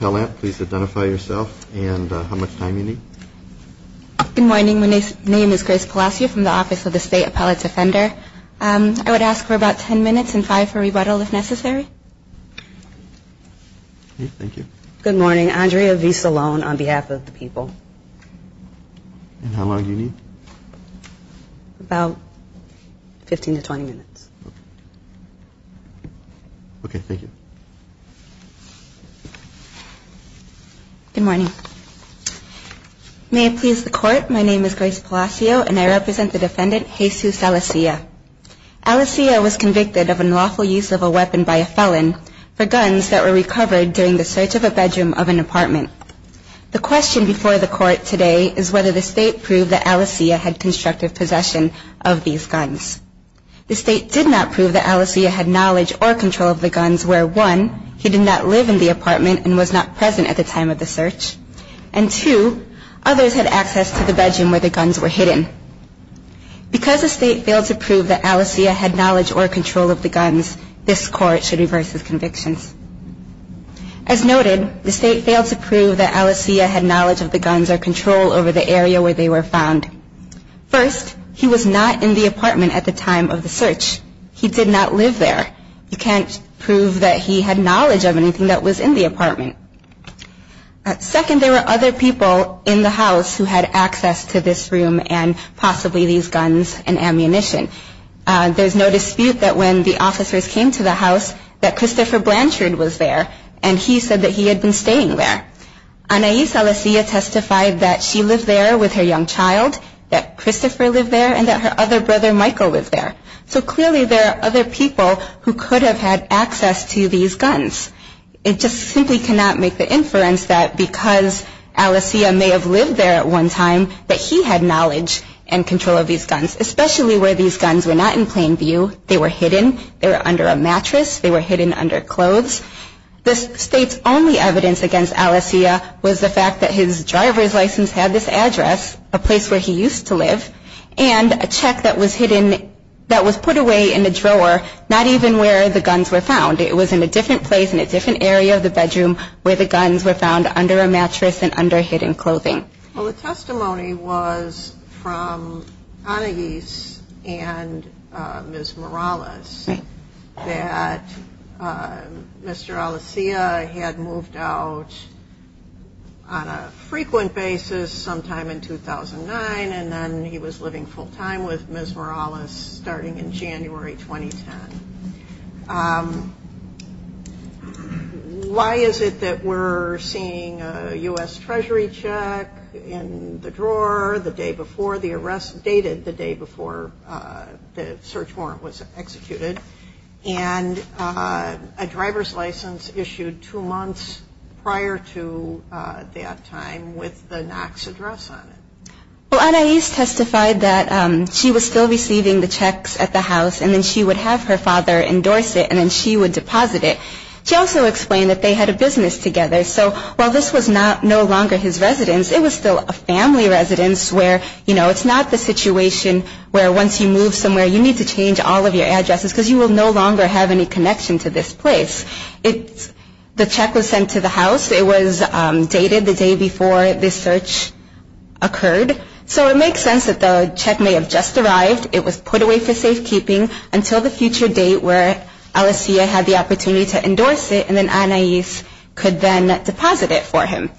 Pellant, please identify yourself and how much time you need. Good morning. My name is Grace Palacio from the Office of the State Appellate Defender. I would ask for about 10 minutes and five for rebuttal if necessary. Thank you. Good morning. Andrea V. Salone on behalf of the people. And how long do you need? About 15 to 20 minutes. Okay. Thank you. Good morning. May it please the court, my name is Grace Palacio and I represent the defendant Jesus Alicea. Alicea was convicted of unlawful use of a weapon by a felon for guns that were recovered during the search of a bedroom of an apartment. The question before the court today is whether the state proved that Alicea had constructive possession of these guns. The state did not prove that Alicea had knowledge or control of the guns, where one, he did not live in the apartment and was not present at the time of the search, and two, others had access to the bedroom where the guns were hidden. Because the state failed to prove that Alicea had knowledge or control of the guns, this court should reverse its convictions. As noted, the state failed to prove that Alicea had knowledge of the guns or control over the area where they were found. First, he was not in the apartment at the time of the search. He did not live there. You can't prove that he had knowledge of anything that was in the apartment. Second, there were other people in the house who had access to this room and possibly these guns and ammunition. There's no dispute that when the officers came to the house that Christopher Blanchard was there, and he said that he had been staying there. Anais Alicea testified that she lived there with her young child, that Christopher lived there, and that her other brother, Michael, lived there. So clearly there are other people who could have had access to these guns. It just simply cannot make the inference that because Alicea may have lived there at one time, that he had knowledge and control of these guns, especially where these guns were not in plain view. They were hidden. They were under a mattress. They were hidden under clothes. The state's only evidence against Alicea was the fact that his driver's license had this address, a place where he used to live, and a check that was hidden, that was put away in the drawer, not even where the guns were found. It was in a different place, in a different area of the bedroom, where the guns were found under a mattress and under hidden clothing. Well, the testimony was from Anais and Ms. Morales that Mr. Alicea had moved out on a frequent basis sometime in 2009, and then he was living full-time with Ms. Morales starting in January 2010. Why is it that we're seeing a U.S. Treasury check in the drawer the day before the arrest, dated the day before the search warrant was executed, and a driver's license issued two months prior to that time with the Knox address on it? Well, Anais testified that she was still receiving the checks at the house, and then she would have her father endorse it, and then she would deposit it. She also explained that they had a business together, so while this was no longer his residence, it was still a family residence where, you know, it's not the situation where once you move somewhere, you need to change all of your addresses because you will no longer have any connection to this place. The check was sent to the house. It was dated the day before this search occurred, so it makes sense that the check may have just arrived. It was put away for safekeeping until the future date where Alicea had the opportunity to endorse it, and then Anais could then deposit it for him.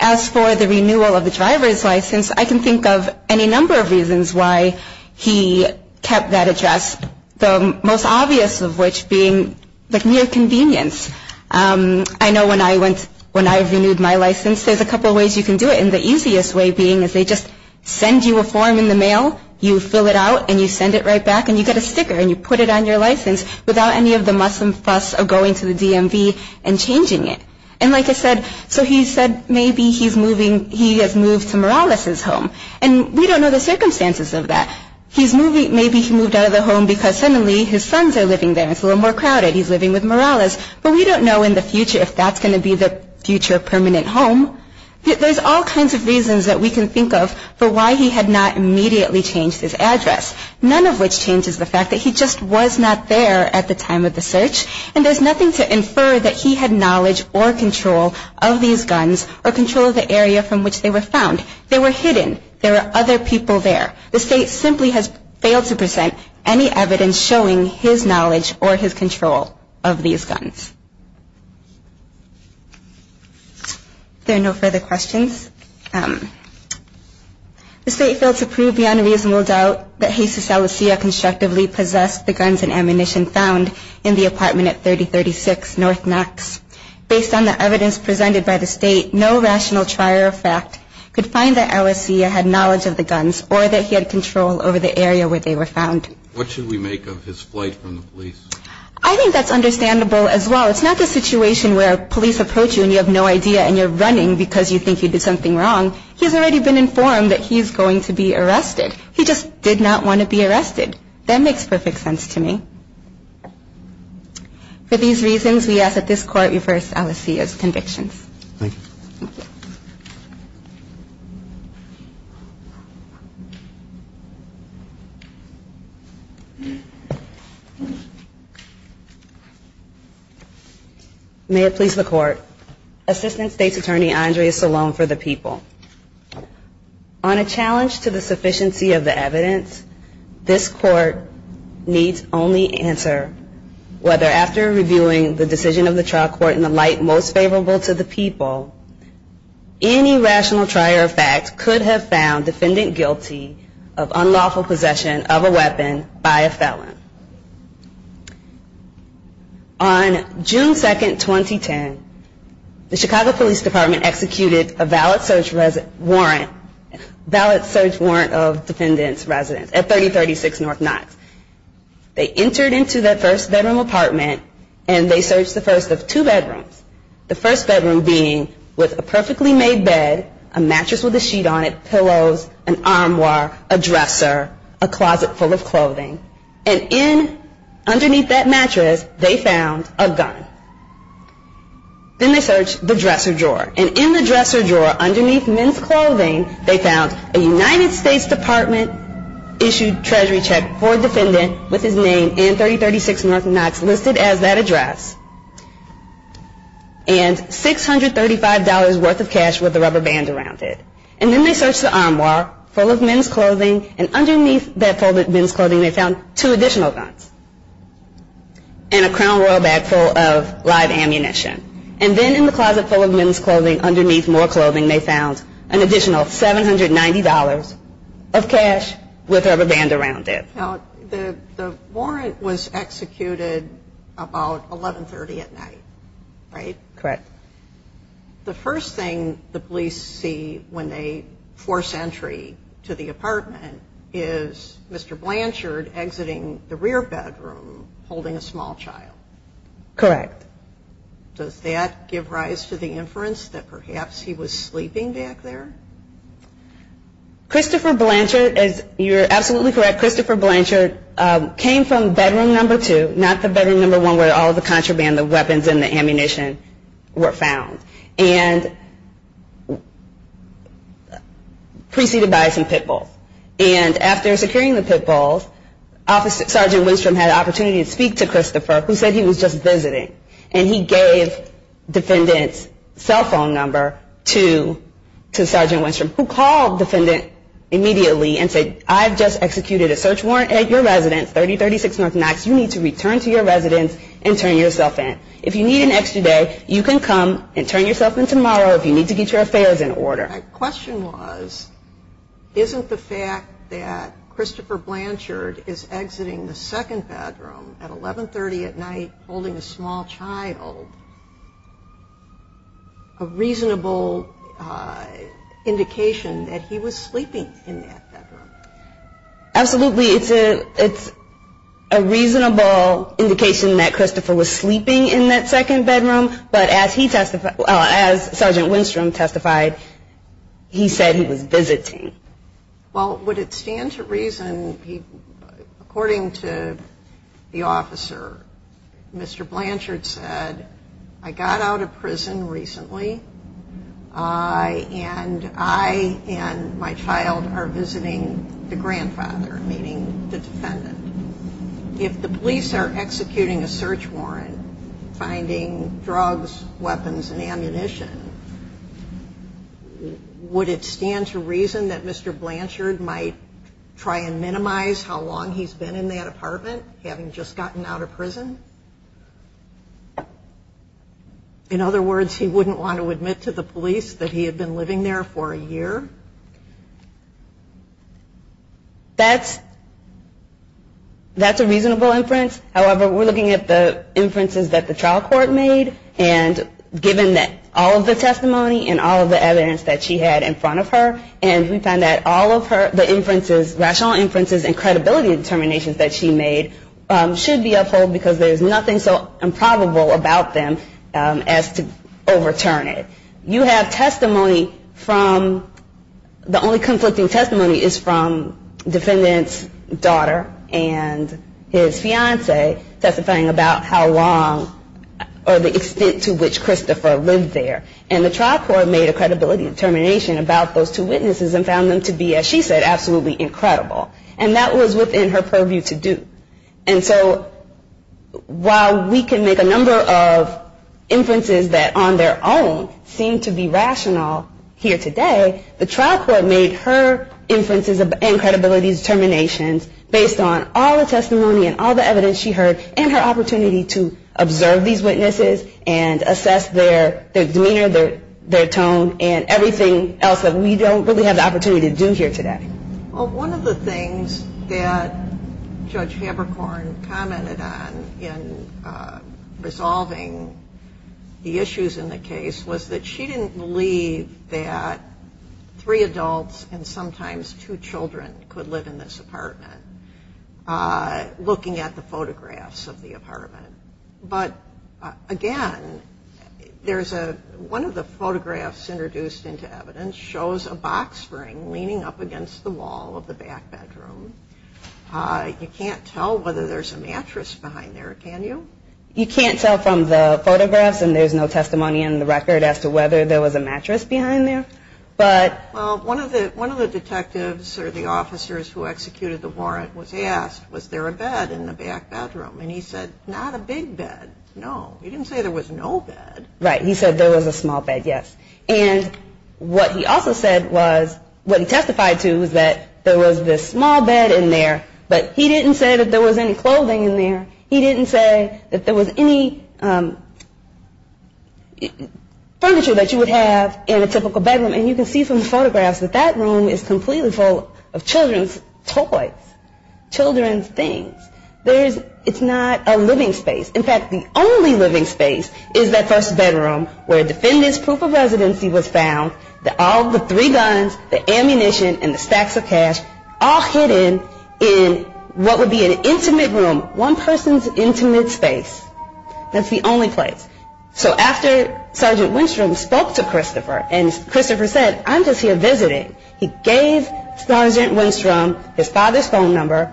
As for the renewal of the driver's license, I can think of any number of reasons why he kept that address, the most obvious of which being near convenience. I know when I went, when I renewed my license, there's a couple of ways you can do it, and the easiest way being is they just send you a form in the mail. You fill it out, and you send it right back, and you get a sticker, and you put it on your license without any of the muscle and fuss of going to the DMV and changing it. And like I said, so he said maybe he's moving, he has moved to Morales' home, and we don't know the circumstances of that. He's moving, maybe he moved out of the home because suddenly his sons are living there. It's a little more crowded. He's living with Morales, but we don't know in the future if that's going to be the future permanent home. There's all kinds of reasons that we can think of for why he had not immediately changed his address, none of which changes the fact that he just was not there at the time of the search, and there's nothing to infer that he had knowledge or control of these guns or control of the area from which they were found. They were hidden. There were other people there. The state simply has failed to present any evidence showing his knowledge or his control of these guns. If there are no further questions. The state failed to prove beyond a reasonable doubt that Jesus Alessia constructively possessed the guns and ammunition found in the apartment at 3036 North Knox. Based on the evidence presented by the state, no rational trier of fact could find that Alessia had knowledge of the guns or that he had control over the area where they were found. What should we make of his flight from the police? I think that's understandable as well. It's not the situation where police approach you and you have no idea and you're running because you think you did something wrong. He's already been informed that he's going to be arrested. He just did not want to be arrested. That makes perfect sense to me. For these reasons, we ask that this Court reverse Alessia's convictions. Thank you. May it please the Court. Assistant State's Attorney Andrea Salone for the people. On a challenge to the sufficiency of the evidence, this Court needs only answer whether after reviewing the decision of the trial court in the light most favorable to the people, any rational trier of fact could have found defendant guilty of unlawful possession of a weapon by a felon. On June 2, 2010, the Chicago Police Department executed a valid search warrant of defendants' residence at 3036 North Knox. They entered into their first bedroom apartment and they searched the first of two bedrooms, the first bedroom being with a perfectly made bed, a mattress with a sheet on it, pillows, an armoire, a dresser, a closet full of clothing. And underneath that mattress, they found a gun. Then they searched the dresser drawer. And in the dresser drawer underneath men's clothing, they found a United States Department issued treasury check for a defendant with his name and 3036 North Knox listed as that address and $635 worth of cash with a rubber band around it. And then they searched the armoire full of men's clothing. And underneath that full of men's clothing, they found two additional guns and a crown royal bag full of live ammunition. And then in the closet full of men's clothing underneath more clothing, they found an additional $790 of cash with a rubber band around it. Now, the warrant was executed about 1130 at night, right? Correct. The first thing the police see when they force entry to the apartment is Mr. Blanchard exiting the rear bedroom holding a small child. Correct. Does that give rise to the inference that perhaps he was sleeping back there? Christopher Blanchard, you're absolutely correct, Christopher Blanchard came from bedroom number two, not the bedroom number one where all of the contraband, the weapons, and the ammunition were found. And preceded by some pit bulls. And after securing the pit bulls, Sergeant Winstrom had the opportunity to speak to Christopher who said he was just visiting. And he gave defendant's cell phone number to Sergeant Winstrom who called the defendant immediately and said, I've just executed a search warrant at your residence, 3036 North Knox. You need to return to your residence and turn yourself in. If you need an extra day, you can come and turn yourself in tomorrow if you need to get your affairs in order. My question was, isn't the fact that Christopher Blanchard is exiting the second bedroom at 1130 at night holding a small child a reasonable indication that he was sleeping in that bedroom? Absolutely, it's a reasonable indication that Christopher was sleeping in that second bedroom. But as Sergeant Winstrom testified, he said he was visiting. Well, would it stand to reason, according to the officer, Mr. Blanchard said, I got out of prison recently. And I and my child are visiting the grandfather, meaning the defendant. If the police are executing a search warrant, finding drugs, weapons, and ammunition, would it stand to reason that Mr. Blanchard might try and minimize how long he's been in that apartment, having just gotten out of prison? In other words, he wouldn't want to admit to the police that he had been living there for a year? That's a reasonable inference. However, we're looking at the inferences that the trial court made, and given all of the testimony and all of the evidence that she had in front of her, and we found that all of her, the inferences, rational inferences and credibility determinations that she made, should be upheld because there's nothing so improbable about them as to overturn it. You have testimony from, the only conflicting testimony is from defendant's daughter and his fiancee testifying about how long or the extent to which Christopher lived there. And the trial court made a credibility determination about those two witnesses and found them to be, as she said, absolutely incredible. And that was within her purview to do. And so while we can make a number of inferences that on their own seem to be rational here today, the trial court made her inferences and credibility determinations based on all the testimony and all the evidence she heard and her opportunity to observe these witnesses and assess their demeanor, their tone, and everything else that we don't really have the opportunity to do here today. Well, one of the things that Judge Haberkorn commented on in resolving the issues in the case was that she didn't believe that three adults and sometimes two children could live in this apartment. Looking at the photographs of the apartment. But again, one of the photographs introduced into evidence shows a box spring leaning up against the wall of the back bedroom. You can't tell whether there's a mattress behind there, can you? You can't tell from the photographs and there's no testimony in the record as to whether there was a mattress behind there. Well, one of the detectives or the officers who executed the warrant was asked, was there a bed in the back bedroom? And he said, not a big bed, no. He didn't say there was no bed. Right, he said there was a small bed, yes. And what he also said was, what he testified to was that there was this small bed in there, but he didn't say that there was any clothing in there. He didn't say that there was any furniture that you would have in a typical bedroom. And you can see from the photographs that that room is completely full of children's toys, children's things. It's not a living space. In fact, the only living space is that first bedroom where a defendant's proof of residency was found, all the three guns, the ammunition and the stacks of cash all hidden in what would be an intimate room, one person's intimate space. That's the only place. So after Sergeant Winstrom spoke to Christopher and Christopher said, I'm just here visiting, he gave Sergeant Winstrom his father's phone number,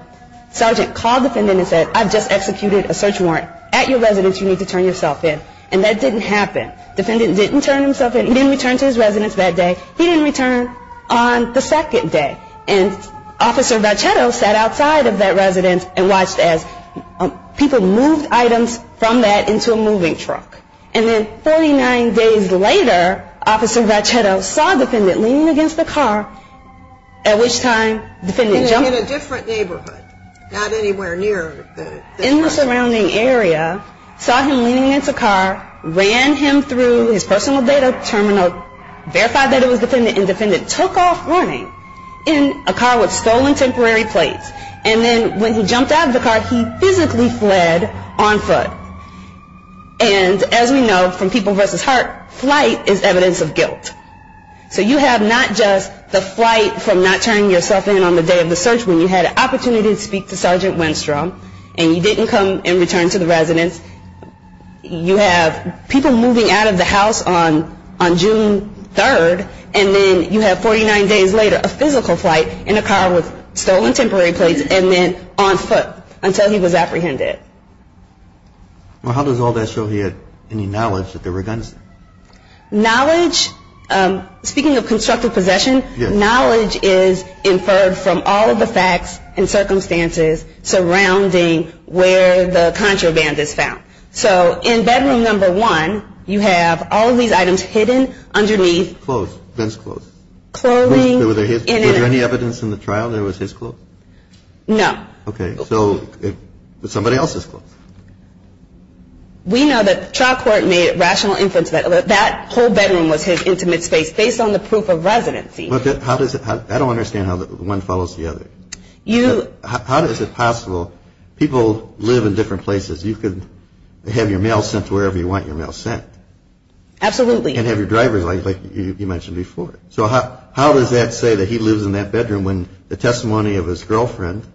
Sergeant called the defendant and said, I've just executed a search warrant at your residence, you need to turn yourself in. And that didn't happen. The defendant didn't turn himself in, he didn't return to his residence that day. He didn't return on the second day. And Officer Vachetto sat outside of that residence and watched as people moved items from that into a moving truck. And then 49 days later, Officer Vachetto saw a defendant leaning against a car, at which time the defendant jumped. In a different neighborhood, not anywhere near. In the surrounding area, saw him leaning against a car, ran him through his personal data terminal, verified that it was defendant and defendant took off running in a car with stolen temporary plates. And then when he jumped out of the car, he physically fled on foot. And as we know from People Vs. Heart, flight is evidence of guilt. So you have not just the flight from not turning yourself in on the day of the search, when you had an opportunity to speak to Sergeant Winstrom and you didn't come and return to the residence. You have people moving out of the house on June 3rd. And then you have 49 days later, a physical flight in a car with stolen temporary plates and then on foot until he was apprehended. Well, how does all that show he had any knowledge that there were guns there? Knowledge, speaking of constructive possession, knowledge is inferred from all of the facts and circumstances surrounding where the contraband is found. So in bedroom number one, you have all of these items hidden underneath. Clothes, Vince clothes. Clothing. Were there any evidence in the trial that it was his clothes? No. Okay. So it was somebody else's clothes. We know that the trial court made rational inference that that whole bedroom was his intimate space based on the proof of residency. How does it, I don't understand how one follows the other. You. How is it possible people live in different places? You could have your mail sent to wherever you want your mail sent. Absolutely. And have your drivers like you mentioned before. So how does that say that he lives in that bedroom when the testimony of his girlfriend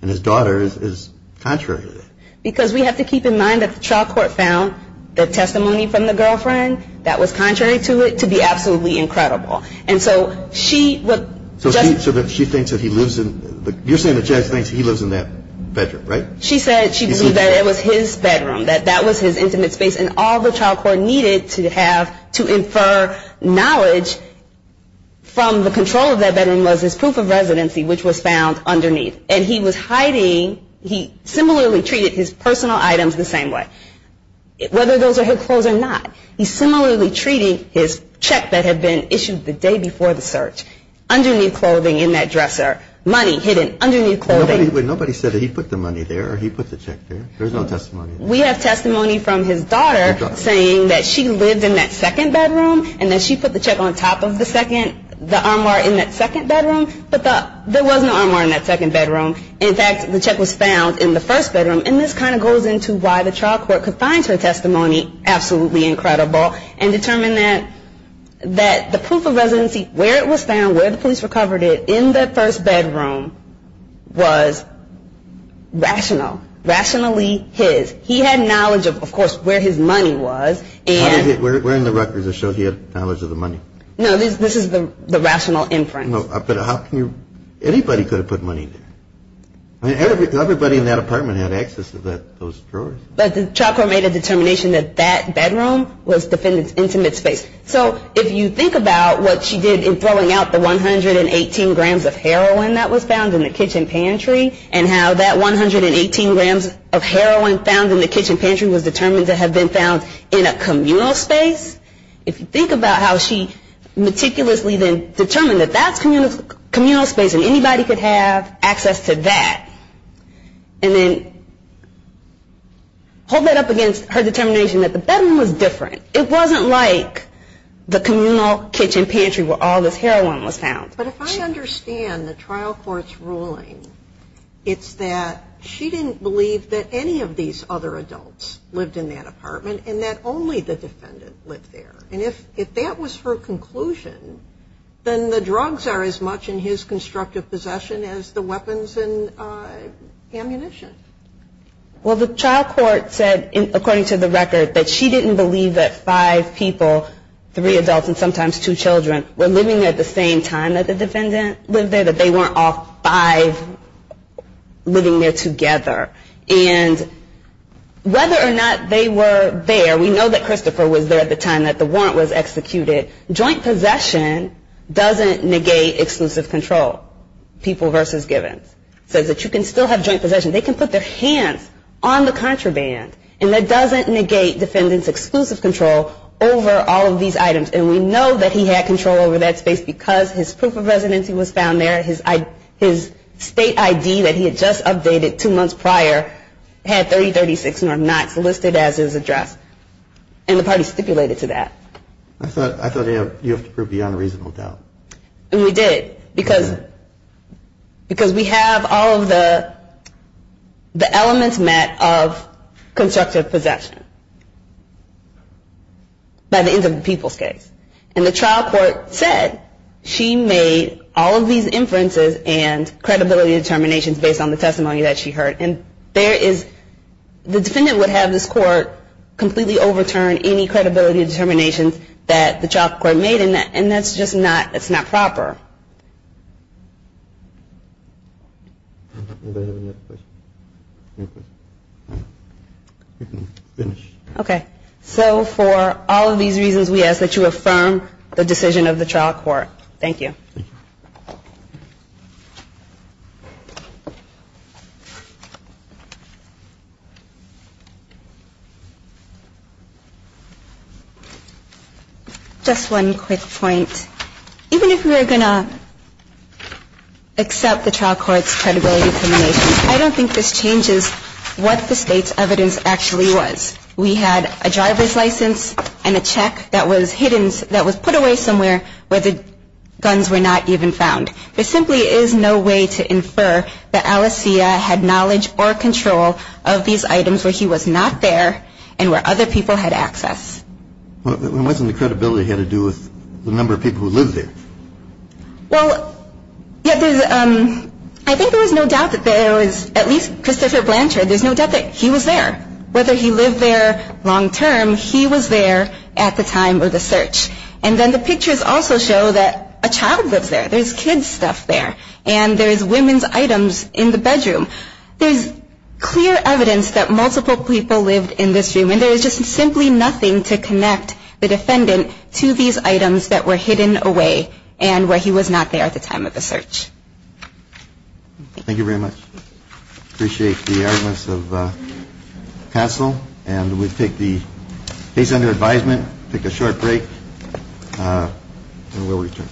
and his daughter is contrary to that? Because we have to keep in mind that the trial court found the testimony from the girlfriend that was contrary to it to be absolutely incredible. And so she would. So she thinks that he lives in, you're saying the judge thinks he lives in that bedroom, right? She said she believed that it was his bedroom, that that was his intimate space and all the trial court needed to have to infer knowledge from the control of that bedroom was his proof of residency which was found underneath. And he was hiding, he similarly treated his personal items the same way, whether those are his clothes or not. He's similarly treating his check that had been issued the day before the search, underneath clothing in that dresser, money hidden underneath clothing. But nobody said that he put the money there or he put the check there. There's no testimony. We have testimony from his daughter saying that she lived in that second bedroom and that she put the check on top of the second, the armoire in that second bedroom. But there was no armoire in that second bedroom. In fact, the check was found in the first bedroom. And this kind of goes into why the trial court could find her testimony absolutely incredible and determine that the proof of residency, where it was found, where the police recovered it, in that first bedroom, was in that second bedroom. Because the evidence was rational, rationally his. He had knowledge of, of course, where his money was. We're in the records that show he had knowledge of the money. No, this is the rational inference. But how can you, anybody could have put money there. Everybody in that apartment had access to those drawers. But the trial court made a determination that that bedroom was defendant's intimate space. So if you think about what she did in throwing out the 118 grams of heroin that was found in the kitchen pantry and how that 118 grams of heroin found in the kitchen pantry was determined to have been found in a communal space. If you think about how she meticulously then determined that that's communal space and anybody could have access to that. And then hold that up against her determination that the bedroom was different. It wasn't like the communal kitchen pantry where all this heroin was found. But if I understand the trial court's ruling, it's that she didn't believe that any of these other adults lived in that apartment and that only the defendant lived there. And if that was her conclusion, then the drugs are as much in his constructive possession as the weapons and ammunition. Well, the trial court said, according to the record, that she didn't believe that five people, three adults and sometimes two children, were living there at the same time that the defendant lived there. That they weren't all five living there together. And whether or not they were there, we know that Christopher was there at the time that the warrant was executed. Joint possession doesn't negate exclusive control, people versus givens. It says that you can still have joint possession. They can put their hands on the contraband and that doesn't negate defendant's exclusive control over all of these items. And we know that he had control over that space because his proof of residency was found there. His state ID that he had just updated two months prior had 3036 North Knox listed as his address. And the party stipulated to that. I thought you have to prove beyond reasonable doubt. And we did. Because we have all of the elements met of constructive possession. By the end of the people's case. And the trial court said she made all of these inferences and credibility determinations based on the testimony that she heard. And there is, the defendant would have this court completely overturn any credibility determinations that the trial court made. And that's just not, it's not proper. Okay. So for all of these reasons we ask that you affirm the decision of the trial court. Thank you. Just one quick point. Even if we are going to accept the trial court's credibility determination, I don't think this changes what the state's evidence actually was. We had a driver's license and a check that was hidden, that was put away somewhere where the guns were not used. And there is no way to infer that Alessia had knowledge or control of these items where he was not there and where other people had access. Well, wasn't the credibility had to do with the number of people who lived there? Well, I think there was no doubt that there was, at least Christopher Blanchard, there was no doubt that he was there. Whether he lived there long-term, he was there at the time of the search. And then the pictures also show that a child lives there. There's kids' stuff there. And there's women's items in the bedroom. There's clear evidence that multiple people lived in this room. And there is just simply nothing to connect the defendant to these items that were hidden away and where he was not there at the time of the search. Thank you very much. Appreciate the arguments of counsel. And we take the case under advisement, take a short break, and we'll return.